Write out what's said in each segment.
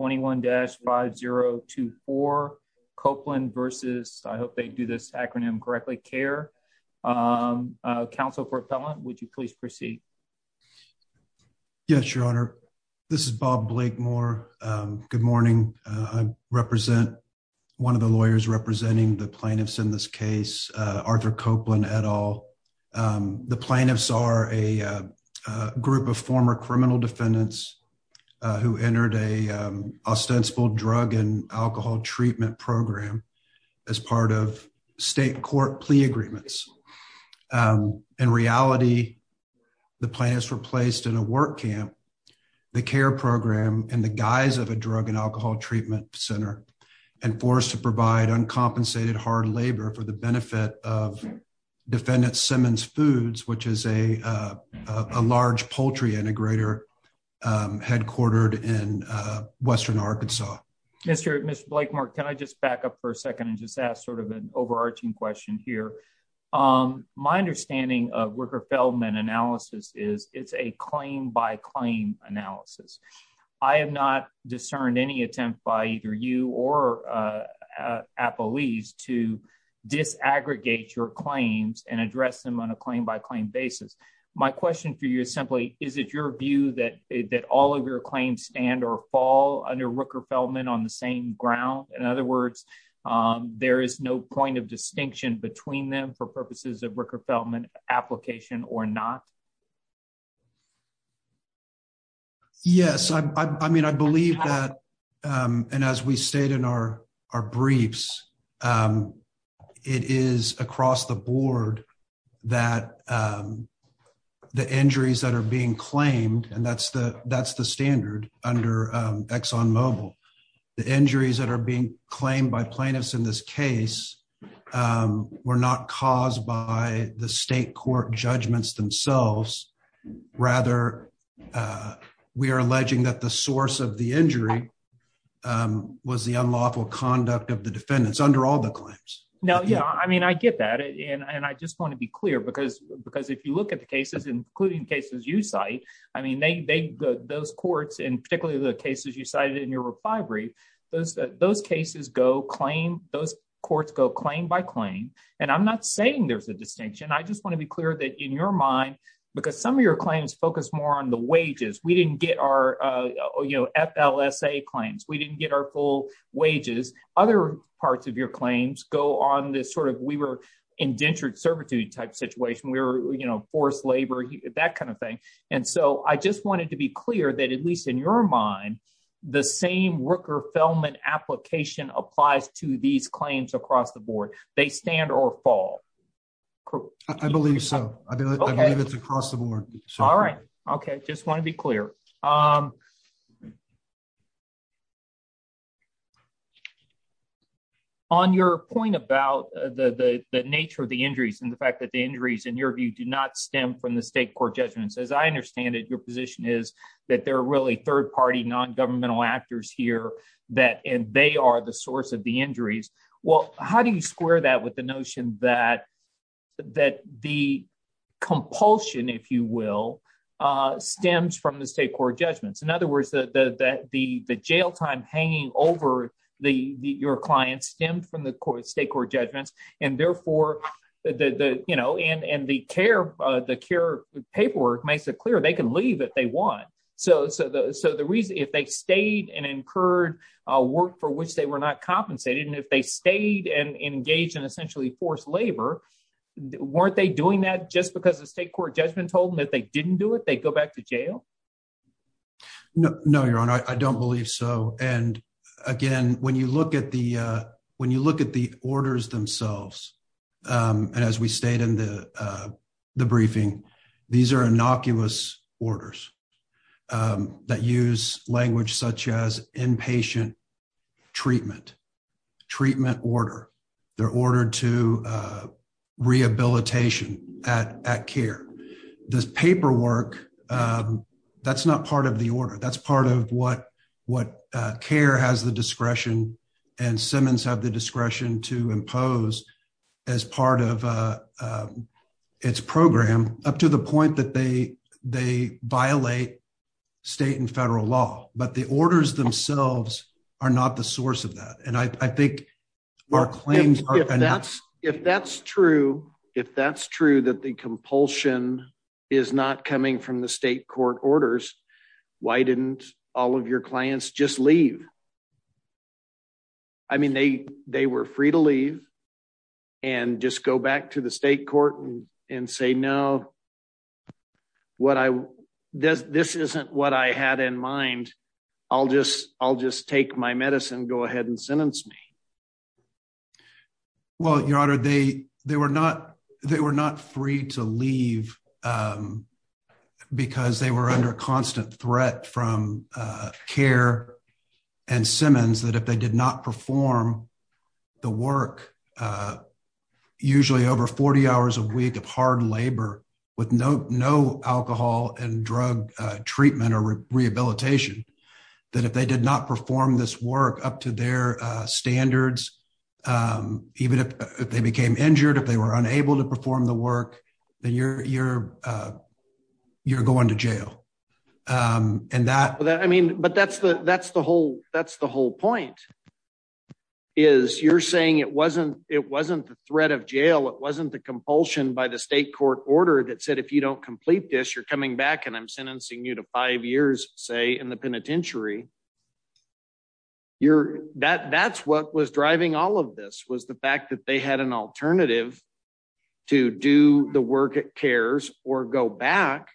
21-5024, Copeland v. I hope they do this acronym correctly, C.A.A.R. Counsel for Appellant, would you please proceed? Yes, Your Honor. This is Bob Blakemore. Good morning. I represent one of the lawyers representing the plaintiffs in this case, Arthur Copeland et al. The plaintiffs are a group of former criminal defendants who entered an ostensible drug and alcohol treatment program as part of state court plea agreements. In reality, the plaintiffs were placed in a work camp, the C.A.A.R. program in the guise of a drug and alcohol treatment center and forced to provide uncompensated hard labor for of defendant Simmons Foods, which is a large poultry integrator headquartered in western Arkansas. Mr. Blakemore, can I just back up for a second and just ask sort of an overarching question here? My understanding of Wicker-Feldman analysis is it's a claim by claim analysis. I have not discerned any attempt by either you or Appellees to disaggregate your claims and address them on a claim by claim basis. My question for you is simply, is it your view that all of your claims stand or fall under Wicker-Feldman on the same ground? In other words, there is no point of distinction between them for purposes of Wicker-Feldman application or not? Yes, I mean, I believe that and as we state in our briefs, it is across the board that the injuries that are being claimed, and that's the standard under Exxon Mobil, the injuries that are being claimed by plaintiffs in this case were not caused by the state court judgments themselves, rather we are alleging that the source of the injury was the unlawful conduct of the defendants under all the claims. Now, yeah, I mean, I get that and I just want to be clear because if you look at the cases, including cases you cite, I mean, those courts and particularly the cases you cited in your brief, those cases go claim, those courts go claim by claim, and I'm not saying there's a distinction, I just want to be clear that in your mind, because some of your claims focus more on the wages, we didn't get our, you know, FLSA claims, we didn't get our full wages, other parts of your claims go on this sort of we were indentured servitude type situation, we were, you know, forced labor, that kind of thing. And so I just wanted to be clear that at least in your mind, the same Wicker-Feldman application applies to these claims across the board, they stand or fall? I believe so. I believe it's across the board. All right. Okay, just want to be clear. On your point about the nature of the injuries and the fact that the injuries, in your view, do not stem from the state court judgments, as I understand it, your position is that they're really third party non-governmental actors here that and they are the source of the injuries. Well, how do you square that with the notion that the compulsion, if you will, stems from the state court judgments? In other words, the jail time hanging over your client stemmed from the state court judgments, and therefore, you know, and the care, the care paperwork makes it clear they can leave if they want. So the reason if they stayed and incurred work for which they were not compensated, and if they stayed and engaged in essentially forced labor, weren't they doing that just because the state court judgment told them that they didn't do it, they'd go back to jail? No, your honor, I don't believe so. And again, when you look at the orders themselves, and as we stated in the briefing, these are innocuous orders that use language such as inpatient treatment, treatment order, they're ordered to rehabilitation at care. This paperwork, that's not part of the order, that's part of what care has the discretion and Simmons have the discretion to impose as part of its program, up to the point that they violate state and federal law, but the orders themselves are not the source of that. And I think our claims... If that's true, if that's true that the compulsion is not coming from the state court orders, why didn't all of your clients just leave? I mean, they were free to leave and just go back to the state court and say, no, what I... This isn't what I had in mind, I'll just take my medicine, go ahead and sentence me. Well, your honor, they were not free to leave because they were under constant threat from care and Simmons that if they did not perform the work, usually over 40 hours a week of hard labor with no alcohol and drug treatment or rehabilitation, that if they did not perform this work up to their standards, even if they became injured, if they were unable to perform the work, then you're going to jail. And that... I mean, but that's the whole point is you're saying it wasn't the threat of jail, it wasn't the compulsion by the state court order that said, if you don't complete this, you're coming back and I'm sentencing you to five years, say in the penitentiary. That's what was driving all of this was the fact that they had an alternative to do the work at cares or go back.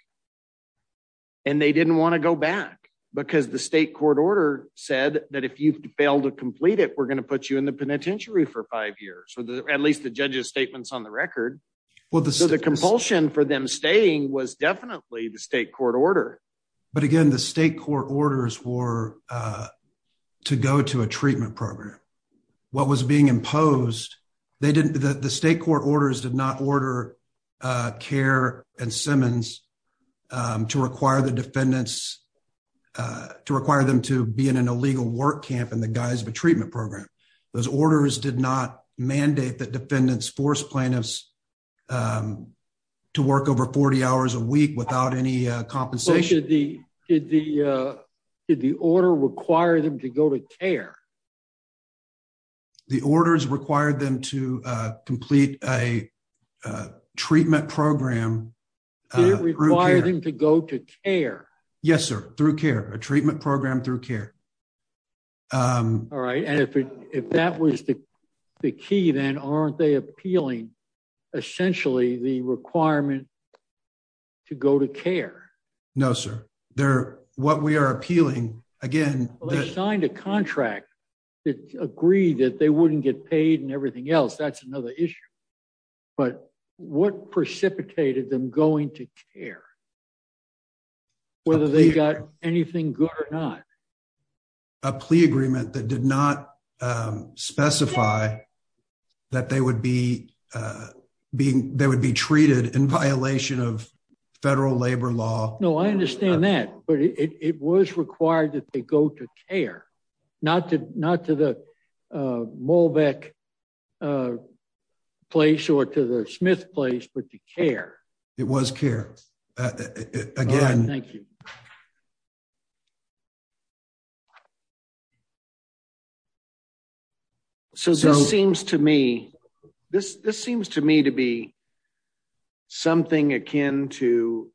And they didn't want to go back because the state court order said that if you fail to complete it, we're going to put you in the penitentiary for five years, or at least the judge's statements on the record. So the compulsion for them staying was definitely the state court order. But again, the state court orders were to go to a treatment program. What was being imposed, the state court orders did not order care and Simmons to require the defendants to require them to be in an illegal work camp in the guise of a treatment program. Those orders did not mandate that defendants force plaintiffs um to work over 40 hours a week without any compensation. Did the order require them to go to care? The orders required them to complete a treatment program. Did it require them to go to care? Yes, sir. Through care, a treatment program through care. All right. And if that was the key, then aren't they appealing essentially the requirement to go to care? No, sir. They're what we are appealing again. They signed a contract that agreed that they wouldn't get paid and everything else. That's another issue. But what precipitated them going to care? Yeah. Whether they got anything good or not, a plea agreement that did not specify that they would be uh being, they would be treated in violation of federal labor law. No, I understand that. But it was required that they go to care, not to not to the uh molbeck uh place or to the smith place but to care. It was care. Again. Thank you. So this seems to me, this this seems to me to be something akin to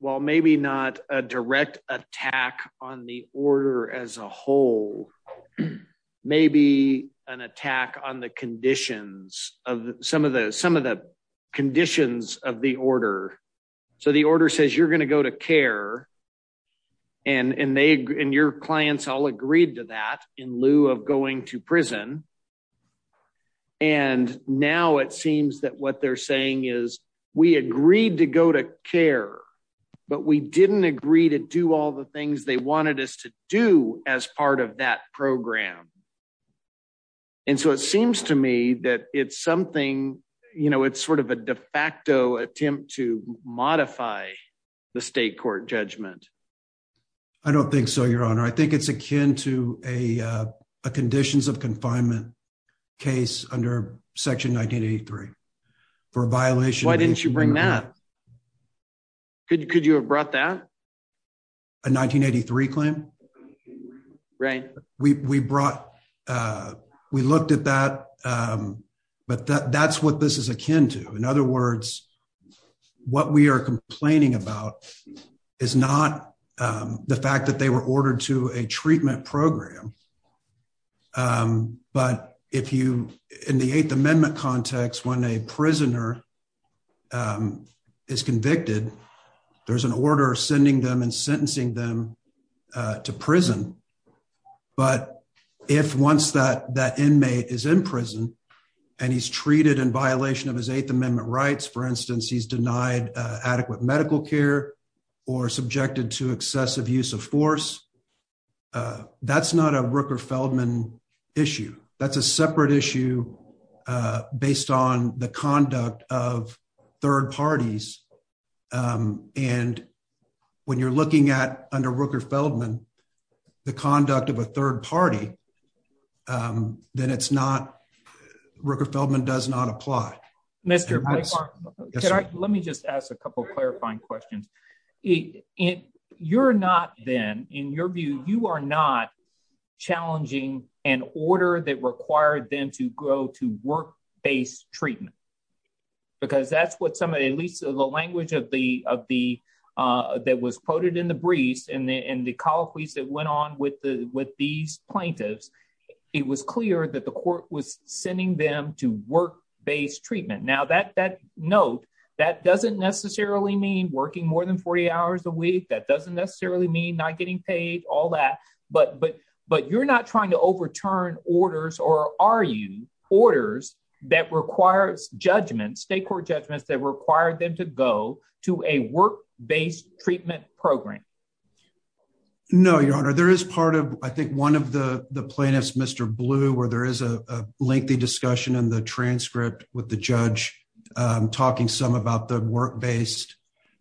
well maybe not a direct attack on the order as a whole. Maybe an attack on the conditions of some of the some of the conditions of the order. So the order says you're going to go to care and and they and your clients all agreed to that in lieu of going to prison. And now it seems that what they're saying is we agreed to go to care but we didn't agree to do all the things they wanted us to do as part of that program. And so it seems to me that it's something you know it's sort of a de facto attempt to modify the state court judgment. I don't think so, I think it's akin to a a conditions of confinement case under section 1983 for a violation. Why didn't you bring that? Could you could you have brought that? A 1983 claim? Right. We we brought uh we looked at that um but that that's what this is akin to. In other words, what we are complaining about is not the fact that they were ordered to a treatment program. But if you in the eighth amendment context when a prisoner is convicted there's an order sending them and sentencing them to prison. But if once that that he's denied adequate medical care or subjected to excessive use of force that's not a Rooker-Feldman issue. That's a separate issue based on the conduct of third parties. And when you're looking at under Rooker-Feldman the conduct of a third party um then it's not Rooker-Feldman does not apply. Mr. White, let me just ask a couple clarifying questions. If you're not then in your view you are not challenging an order that required them to go to work-based treatment? Because that's what somebody at least the language of the of the that was quoted in the briefs and the and the colloquies that went on with the with these plaintiffs it was clear that the court was sending them to work-based treatment. Now that that note that doesn't necessarily mean working more than 40 hours a week. That doesn't necessarily mean not getting paid all that. But but but you're not trying to overturn orders or are you orders that requires judgments state court judgments that require them to go to a work-based treatment program? No your honor there is part of I think one of the the plaintiffs Mr. Blue where there is a lengthy discussion in the transcript with the judge talking some about the work-based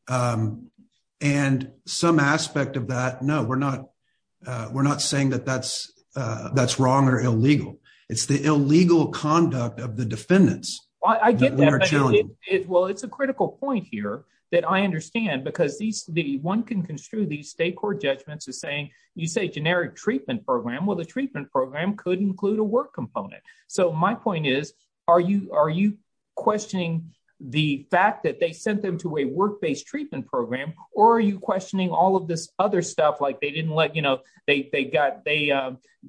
and some aspect of that no we're not we're not saying that that's that's wrong or illegal. It's the illegal conduct of the defendants. I get that it well it's a critical point here that I understand because these the one can construe these state court judgments as saying you say generic treatment program well the treatment program could include a work component. So my point is are you are you questioning the fact that they sent them to a work-based treatment program or are you questioning all of this other stuff like they didn't let you know they they got they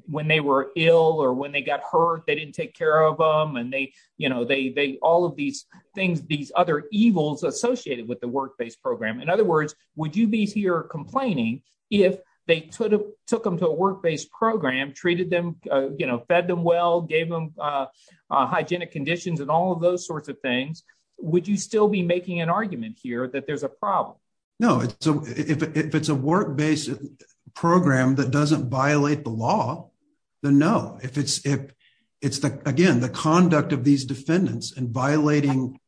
when they were ill or when they got hurt they didn't take care of them and they you know they they all of these things these other evils associated with the work-based program. In other words would you be here complaining if they could have took them to a work-based program treated them you know fed them well gave them hygienic conditions and all of those sorts of things would you still be making an argument here that there's a problem? No it's a if it's a work-based program that doesn't violate the law then no if it's if it's the again the conduct of these defendants and violating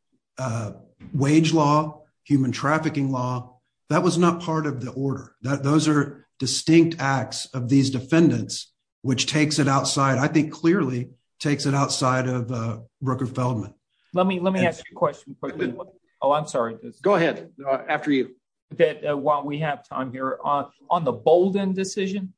wage law human trafficking law that was not part of the order that those are distinct acts of these defendants which takes it outside I think clearly takes it outside of uh Brooker Feldman. Let me let me ask you a question quickly oh I'm sorry go ahead after you that while we have time here on on the Bolden decision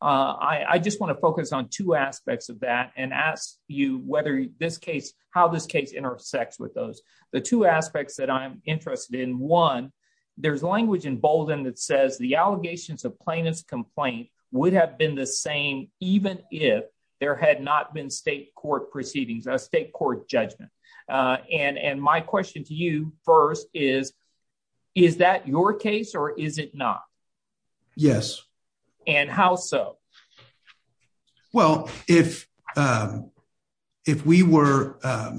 uh I I just want to focus on two aspects of that and ask you whether this case how this case intersects with those the two aspects that I'm interested in one there's language in Bolden that says the allegations of plaintiff's complaint would have been the same even if there had not been state court proceedings a state court judgment uh and and my question to you first is is that your case or is it not? Yes. And how so? Well if um if we were um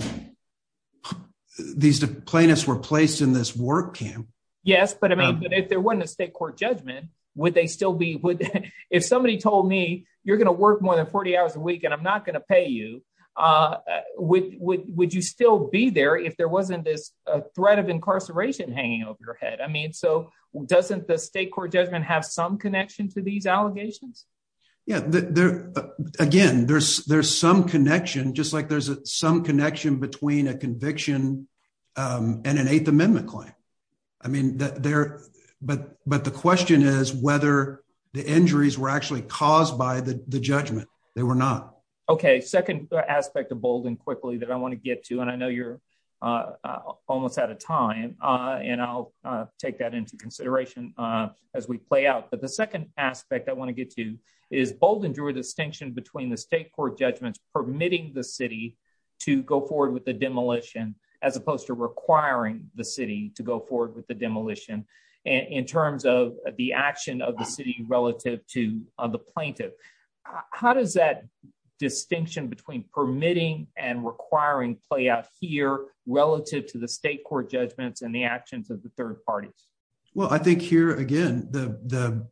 these plaintiffs were placed in this work camp. Yes but I mean but if there wasn't a state court judgment would they still be would if somebody told me you're not going to pay you uh would would you still be there if there wasn't this threat of incarceration hanging over your head? I mean so doesn't the state court judgment have some connection to these allegations? Yeah there again there's there's some connection just like there's some connection between a conviction um and an eighth amendment claim I mean that there but but the question is whether the injuries were actually caused by the the judgment they were not Okay second aspect of Bolden quickly that I want to get to and I know you're uh almost out of time uh and I'll uh take that into consideration uh as we play out but the second aspect I want to get to is Bolden drew a distinction between the state court judgments permitting the city to go forward with the demolition as opposed to requiring the city to go forward with the permitting and requiring play out here relative to the state court judgments and the actions of the third parties? Well I think here again the the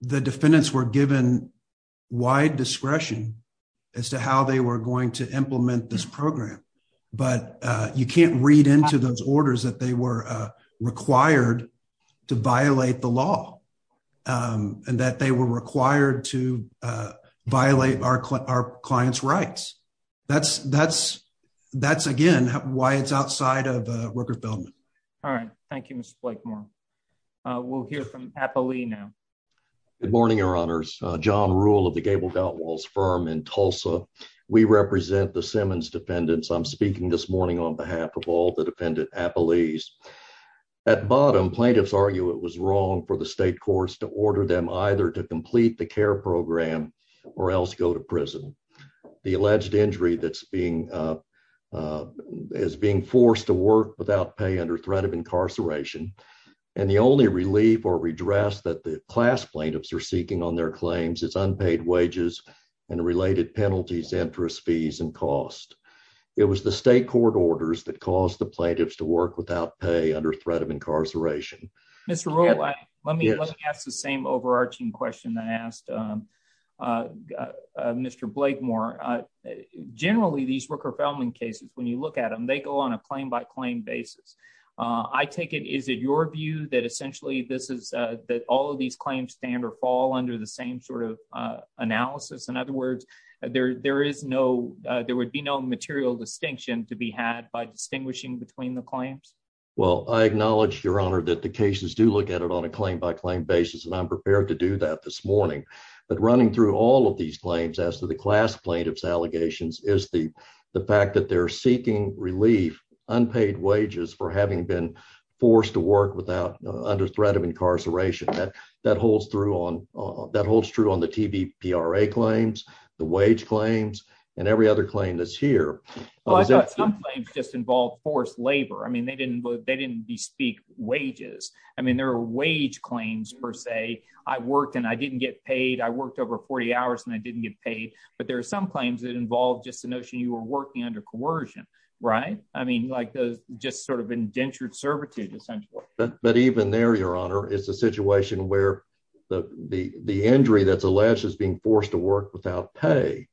the defendants were given wide discretion as to how they were going to implement this program but uh you can't read into those orders that they were uh required to violate the law um and that they were required to uh violate our our client's rights. That's that's that's again why it's outside of uh worker development. All right thank you Mr. Blakemore. Uh we'll hear from Appalee now. Good morning your honors uh John Rule of the Gable Doutwall's firm in Tulsa. We represent the Simmons defendants. I'm speaking this morning on behalf of all the defendant Appalees. At bottom plaintiffs argue it was wrong for the state courts to order them either to complete the care program or else go to prison. The alleged injury that's being uh is being forced to work without pay under threat of incarceration and the only relief or redress that the class plaintiffs are seeking on their claims is unpaid wages and related penalties interest fees and cost. It was the state court orders that caused the plaintiffs to work without pay under threat of incarceration. Mr. Rule let me let me ask the same overarching question that asked um uh uh Mr. Blakemore. Uh generally these worker founding cases when you look at them they go on a claim by claim basis. Uh I take it is it your view that essentially this is uh that all of these claims stand or fall under the same sort of uh analysis. In other words there there is no uh there would be no material distinction to be had by distinguishing between the claims. Well I acknowledge your honor that the cases do look at it on a claim by claim basis and I'm prepared to do that this morning. But running through all of these claims as to the class plaintiffs allegations is the the fact that they're seeking relief unpaid wages for having been forced to work without under threat of incarceration. That that holds through on that holds true on the TBPRA claims the wage claims and every other claim that's here. Well I thought some claims just involve forced labor. I mean they didn't they didn't bespeak wages. I mean there are wage claims per se. I worked and I didn't get paid. I worked over 40 hours and I didn't get paid. But there are some claims that involve just the notion you were working under coercion. Right? I mean like those just sort of indentured servitude essentially. But even there your honor it's a situation where the the the injury that's alleged is being forced to work without pay.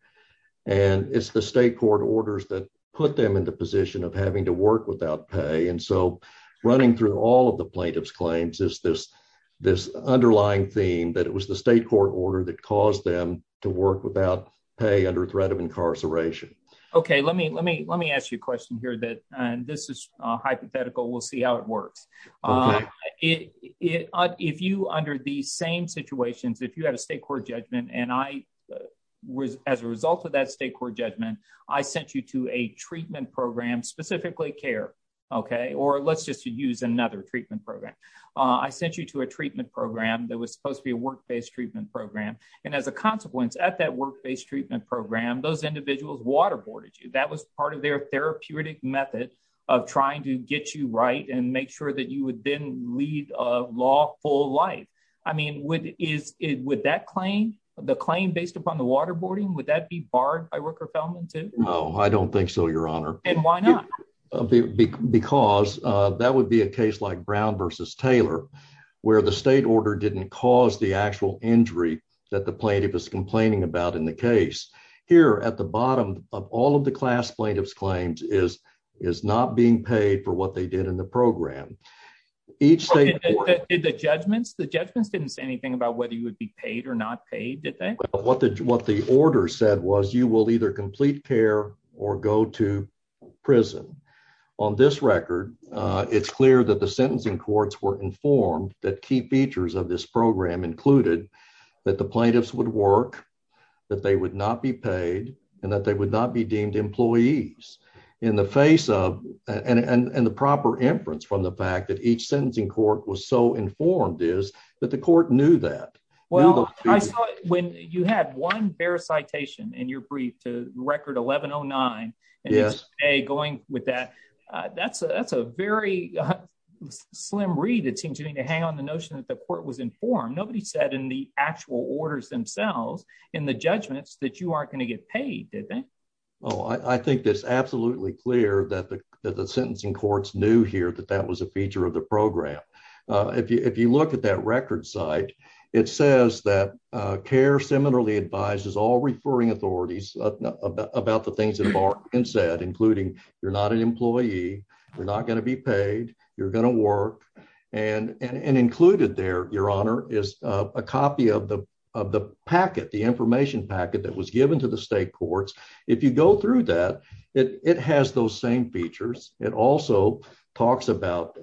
And it's the state court orders that put them in the position of having to work without pay. And so running through all of the plaintiff's claims is this this underlying theme that it was the state court order that caused them to work without pay under threat of incarceration. Okay let me let me let me ask you a question here that and this is a hypothetical. We'll see how it works. If you under these same situations if you had a state court judgment and I was as a result of that state court judgment I sent you to a treatment program specifically care. Okay or let's just use another treatment program. I sent you to a treatment program that was supposed to be a work-based treatment program. And as a consequence at that work-based treatment program those individuals waterboarded you. That was part of their therapeutic method of trying to get you right and make sure that you would then lead a lawful life. I mean would is it would that claim the claim based upon the waterboarding would that be barred by Rooker-Felman too? No I don't think so your honor. And why not? Because that would be a case like Brown versus Taylor where the state order didn't cause the actual injury that the plaintiff is complaining about in the case. Here at the bottom of all of the class plaintiffs claims is is not being paid for what they did in the program. Each state did the judgments the judgments didn't say anything about whether you would be paid or not paid did they? What the what the order said was you will either complete care or go to prison. On this record it's clear that the sentencing courts were that they would not be paid and that they would not be deemed employees in the face of and and and the proper inference from the fact that each sentencing court was so informed is that the court knew that. Well I saw when you had one fair citation in your brief to record 1109. Yes. A going with that that's a that's a very slim read it seems you need to hang on the notion that court was informed nobody said in the actual orders themselves in the judgments that you aren't going to get paid did they? Oh I think it's absolutely clear that the that the sentencing courts knew here that that was a feature of the program. If you if you look at that record site it says that care similarly advises all referring authorities about the things that Mark had said including you're not an employee you're not going to be paid you're going to work and and and your honor is a copy of the of the packet the information packet that was given to the state courts if you go through that it it has those same features it also talks about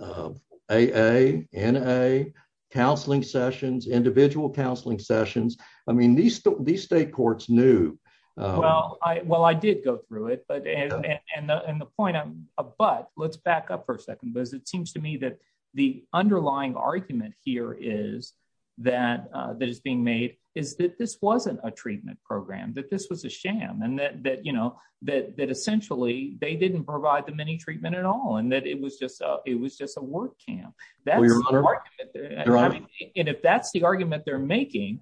AA, NA, counseling sessions, individual counseling sessions, I mean these these state courts knew. Well I well I did go through it but and and and the point I'm but let's back up for a second because it seems to me that the underlying argument here is that that is being made is that this wasn't a treatment program that this was a sham and that that you know that that essentially they didn't provide them any treatment at all and that it was just a it was just a work camp that's the argument and if that's the argument they're making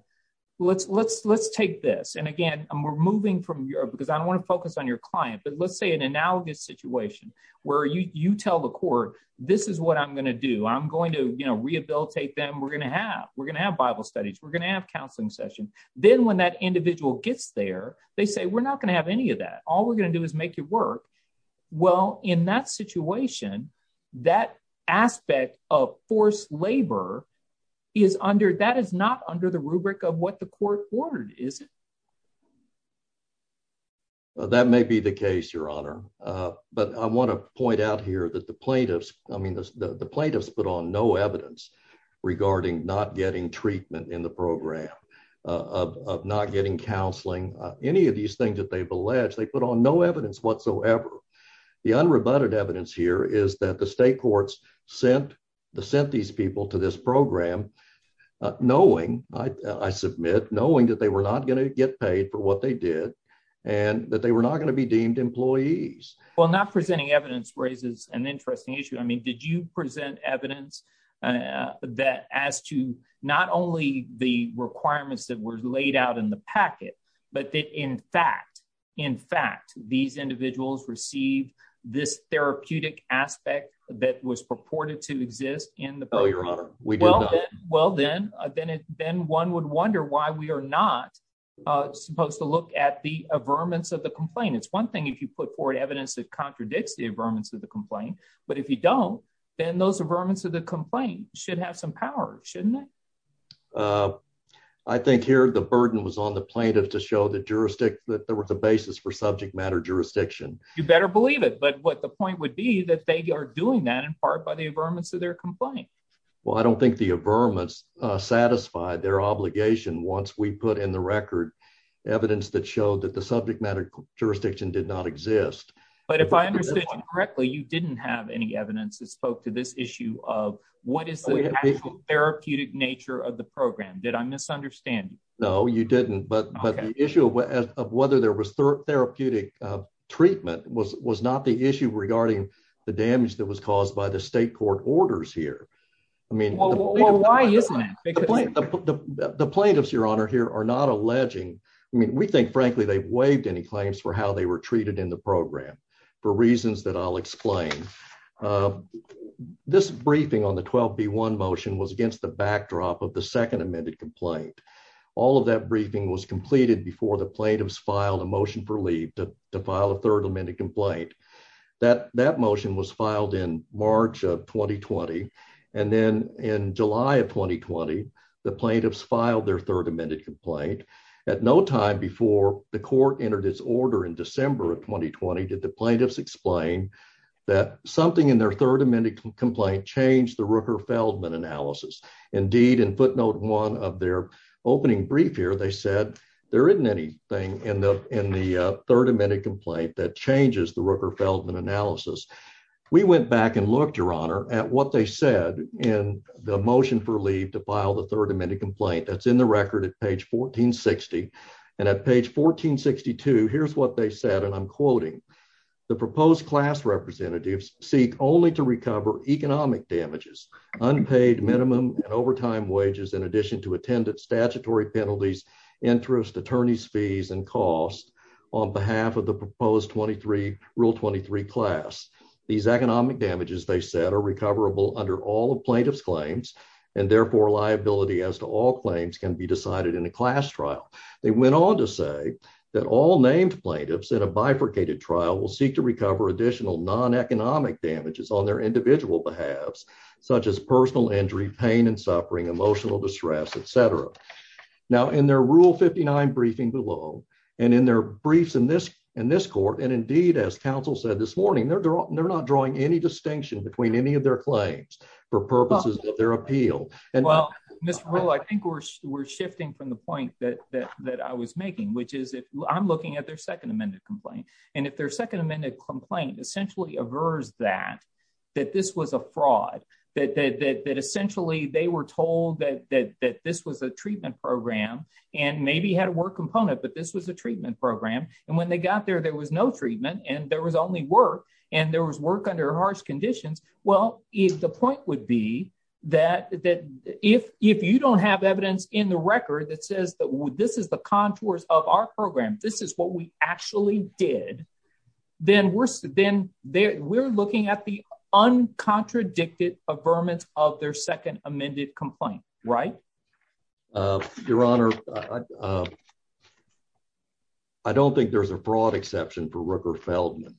let's let's let's take this and again we're moving from Europe because I don't want to focus on your client but let's say an analogous situation where you you tell the court this is what I'm going to do I'm going to you know rehabilitate them we're going to have we're going to have bible studies we're going to have counseling session then when that individual gets there they say we're not going to have any of that all we're going to do is make it work well in that situation that aspect of forced labor is under that is not under the rubric of what the court ordered is it that may be the case your honor but I want to point out here that the plaintiffs I mean the plaintiffs put on no evidence regarding not getting treatment in the program of not getting counseling any of these things that they've alleged they put on no evidence whatsoever the unrebutted evidence here is that the state courts sent the sent these people to this program knowing I submit knowing that they were not going to get paid for what they did and that they were not going to be deemed employees well not presenting evidence raises an interesting issue I mean did you present evidence that as to not only the requirements that were laid out in the packet but that in fact in fact these individuals received this therapeutic aspect that was purported to exist in the bill your honor we do well then then it then one would wonder why we are not supposed to look at the averments of the complaint it's one thing if you put forward evidence that contradicts the averments of the complaint but if you don't then those averments of the complaint should have some power shouldn't it I think here the burden was on the plaintiff to show the jurisdiction that but what the point would be that they are doing that in part by the averments of their complaint well I don't think the averments satisfied their obligation once we put in the record evidence that showed that the subject matter jurisdiction did not exist but if I understood correctly you didn't have any evidence that spoke to this issue of what is the actual therapeutic nature of the program did I misunderstand no you didn't but but the issue of whether there therapeutic treatment was was not the issue regarding the damage that was caused by the state court orders here I mean well why isn't it the plaintiffs your honor here are not alleging I mean we think frankly they've waived any claims for how they were treated in the program for reasons that I'll explain this briefing on the 12b1 motion was against the backdrop of the to file a third amended complaint that that motion was filed in March of 2020 and then in July of 2020 the plaintiffs filed their third amended complaint at no time before the court entered its order in December of 2020 did the plaintiffs explain that something in their third amended complaint changed the Rooker Feldman analysis indeed in footnote one of their opening brief here they said there isn't anything in the in the third amended complaint that changes the Rooker Feldman analysis we went back and looked your honor at what they said in the motion for leave to file the third amended complaint that's in the record at page 1460 and at page 1462 here's what they said and I'm quoting the proposed class representatives seek only to recover economic damages unpaid minimum and overtime wages in addition to attendant statutory penalties interest attorney's fees and costs on behalf of the proposed 23 rule 23 class these economic damages they said are recoverable under all of plaintiff's claims and therefore liability as to all claims can be decided in a class trial they went on to say that all named plaintiffs in a bifurcated trial will seek to recover additional non-economic damages on their individual behalves such as personal injury pain and suffering emotional distress etc now in their rule 59 briefing below and in their briefs in this in this court and indeed as council said this morning they're they're not drawing any distinction between any of their claims for purposes of their appeal and well mr rule I think we're we're shifting from the point that that that I was making which is if I'm looking at their second amended complaint and if their second amended complaint essentially avers that that this was a fraud that that that were told that that that this was a treatment program and maybe had a work component but this was a treatment program and when they got there there was no treatment and there was only work and there was work under harsh conditions well if the point would be that that if if you don't have evidence in the record that says that this is the contours of our program this is what we actually did then we're then there we're looking at the uncontradicted averments of their second amended complaint right your honor I don't think there's a broad exception for Rooker Feldman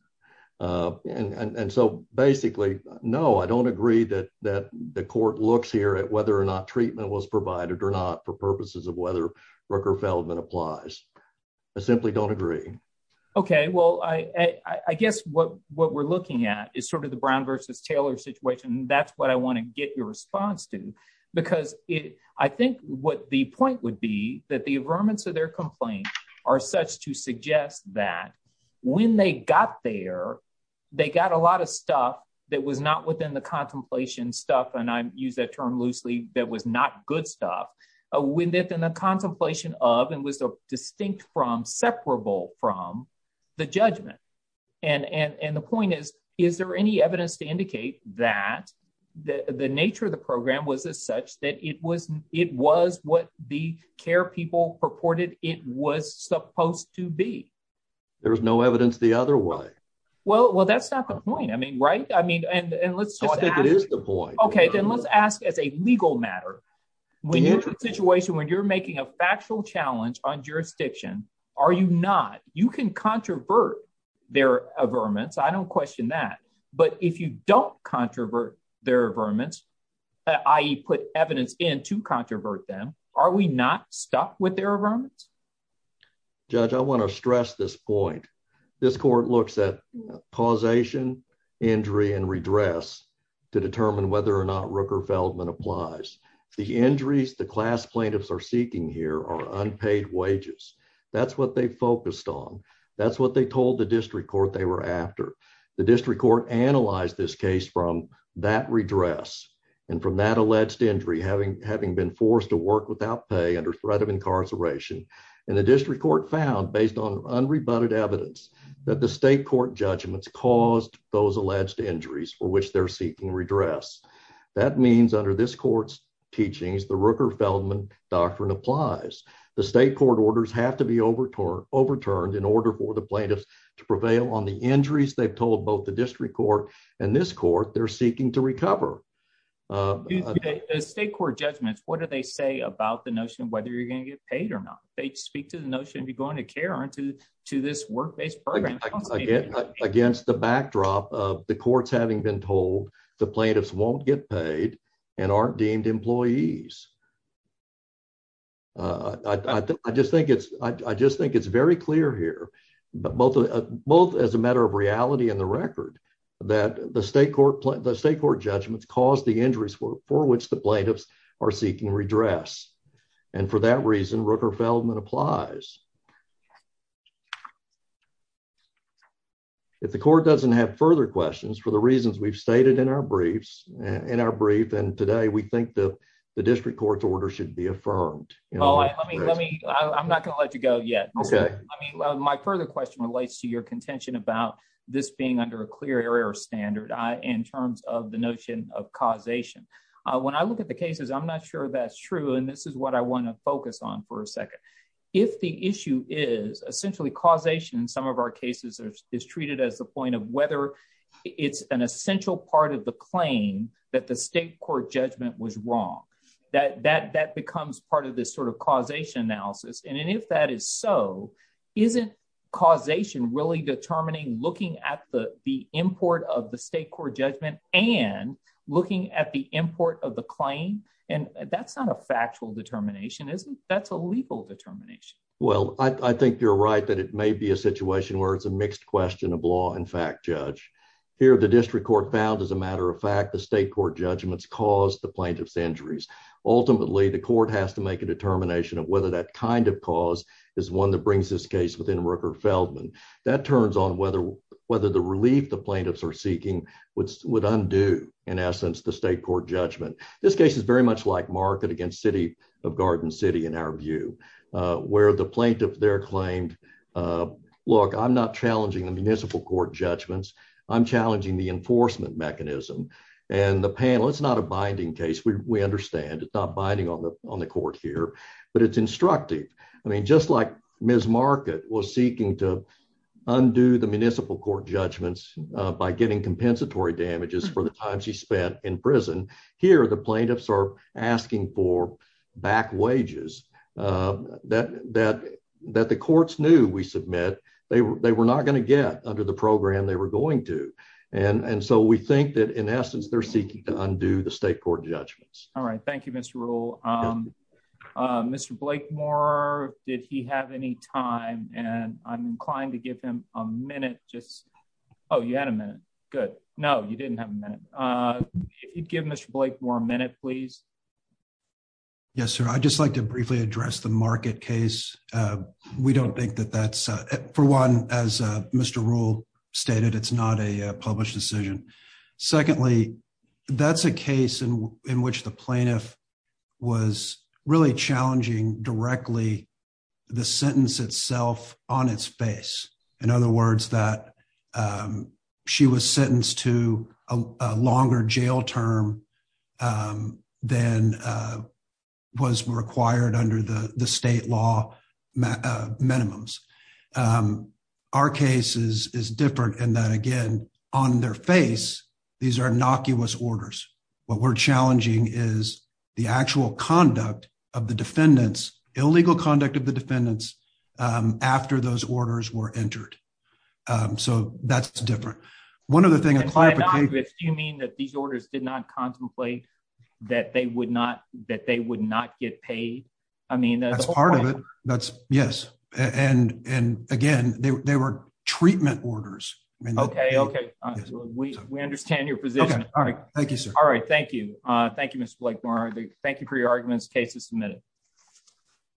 and and so basically no I don't agree that that the court looks here at whether or not treatment was provided or not for purposes of whether Rooker Feldman applies I simply don't agree okay well I I guess what what we're looking at is sort of the Brown versus Taylor situation that's what I want to get your response to because it I think what the point would be that the averments of their complaint are such to suggest that when they got there they got a lot of stuff that was not within the contemplation stuff and I use that term loosely that was not good stuff when that in the contemplation of and was distinct from separable from the judgment and and and the point is is there any evidence to indicate that the the nature of the program was as such that it was it was what the care people purported it was supposed to be there's no evidence the other way well well that's not the point I mean right I mean and and let's just think it is the point okay then let's ask as a legal matter when you're in a situation when you're making a factual challenge on jurisdiction are you not you can controvert their averments I don't question that but if you don't controvert their averments i.e put evidence in to controvert them are we not stuck with their averments judge I want to stress this point this court looks at causation injury and redress to determine whether or not Rooker Feldman applies the injuries the class plaintiffs are seeking here are unpaid wages that's what they focused on that's what they told the district court they were after the district court analyzed this case from that redress and from that alleged injury having having forced to work without pay under threat of incarceration and the district court found based on unrebutted evidence that the state court judgments caused those alleged injuries for which they're seeking redress that means under this court's teachings the Rooker Feldman doctrine applies the state court orders have to be overturned overturned in order for the plaintiffs to prevail on the injuries they've told both the district court and this court they're seeking to about the notion of whether you're going to get paid or not they speak to the notion of you going to care on to to this work-based program against the backdrop of the courts having been told the plaintiffs won't get paid and aren't deemed employees uh I just think it's I just think it's very clear here but both both as a matter of reality in the record that the state court the state court judgments caused the injuries for which plaintiffs are seeking redress and for that reason Rooker Feldman applies if the court doesn't have further questions for the reasons we've stated in our briefs in our brief and today we think the the district court's order should be affirmed you know let me let me I'm not going to let you go yet okay I mean my further question relates to your contention about this being under a clear error standard I in terms of the notion of causation when I look at the cases I'm not sure that's true and this is what I want to focus on for a second if the issue is essentially causation in some of our cases are is treated as the point of whether it's an essential part of the claim that the state court judgment was wrong that that that becomes part of this sort of causation analysis and if that is so isn't causation really determining looking at the the import of the state court judgment and looking at the import of the claim and that's not a factual determination isn't that's a legal determination well I think you're right that it may be a situation where it's a mixed question of law and fact judge here the district court found as a matter of fact the state court judgments caused the plaintiffs injuries ultimately the court has to make a determination of whether that kind of cause is one that brings this case within Rooker Feldman that turns on whether whether the relief the plaintiffs are seeking which would undo in essence the state court judgment this case is very much like market against city of garden city in our view where the plaintiff they're claimed look I'm not challenging the municipal court judgments I'm challenging the enforcement mechanism and the panel it's not a binding case we understand it's not binding on on the court here but it's instructive I mean just like Ms. Market was seeking to undo the municipal court judgments by getting compensatory damages for the time she spent in prison here the plaintiffs are asking for back wages that that that the courts knew we submit they were they were not going to get under the program they were going to and and so we think that in essence they're seeking to undo the state court judgments all right thank you Mr. Rule Mr. Blakemore did he have any time and I'm inclined to give him a minute just oh you had a minute good no you didn't have a minute uh give Mr. Blakemore a minute please yes sir I'd just like to briefly address the market case uh we don't think that that's uh for one as uh Mr. Rule stated it's not a published decision secondly that's a case in in which the plaintiff was really challenging directly the sentence itself on its face in other words that um she was sentenced to a longer jail term um than uh was required under the the state law uh minimums um our case is is different and that again on their face these are innocuous orders what we're challenging is the actual conduct of the defendants illegal conduct of the defendants um after those orders were entered um so that's different one other thing you mean that these orders did not contemplate that they would not that they would not get paid I mean that's part of it that's yes and and again they were treatment orders okay okay we understand your position all right thank you sir all right thank you uh thank you Mr. Blakemore thank you for your arguments case is submitted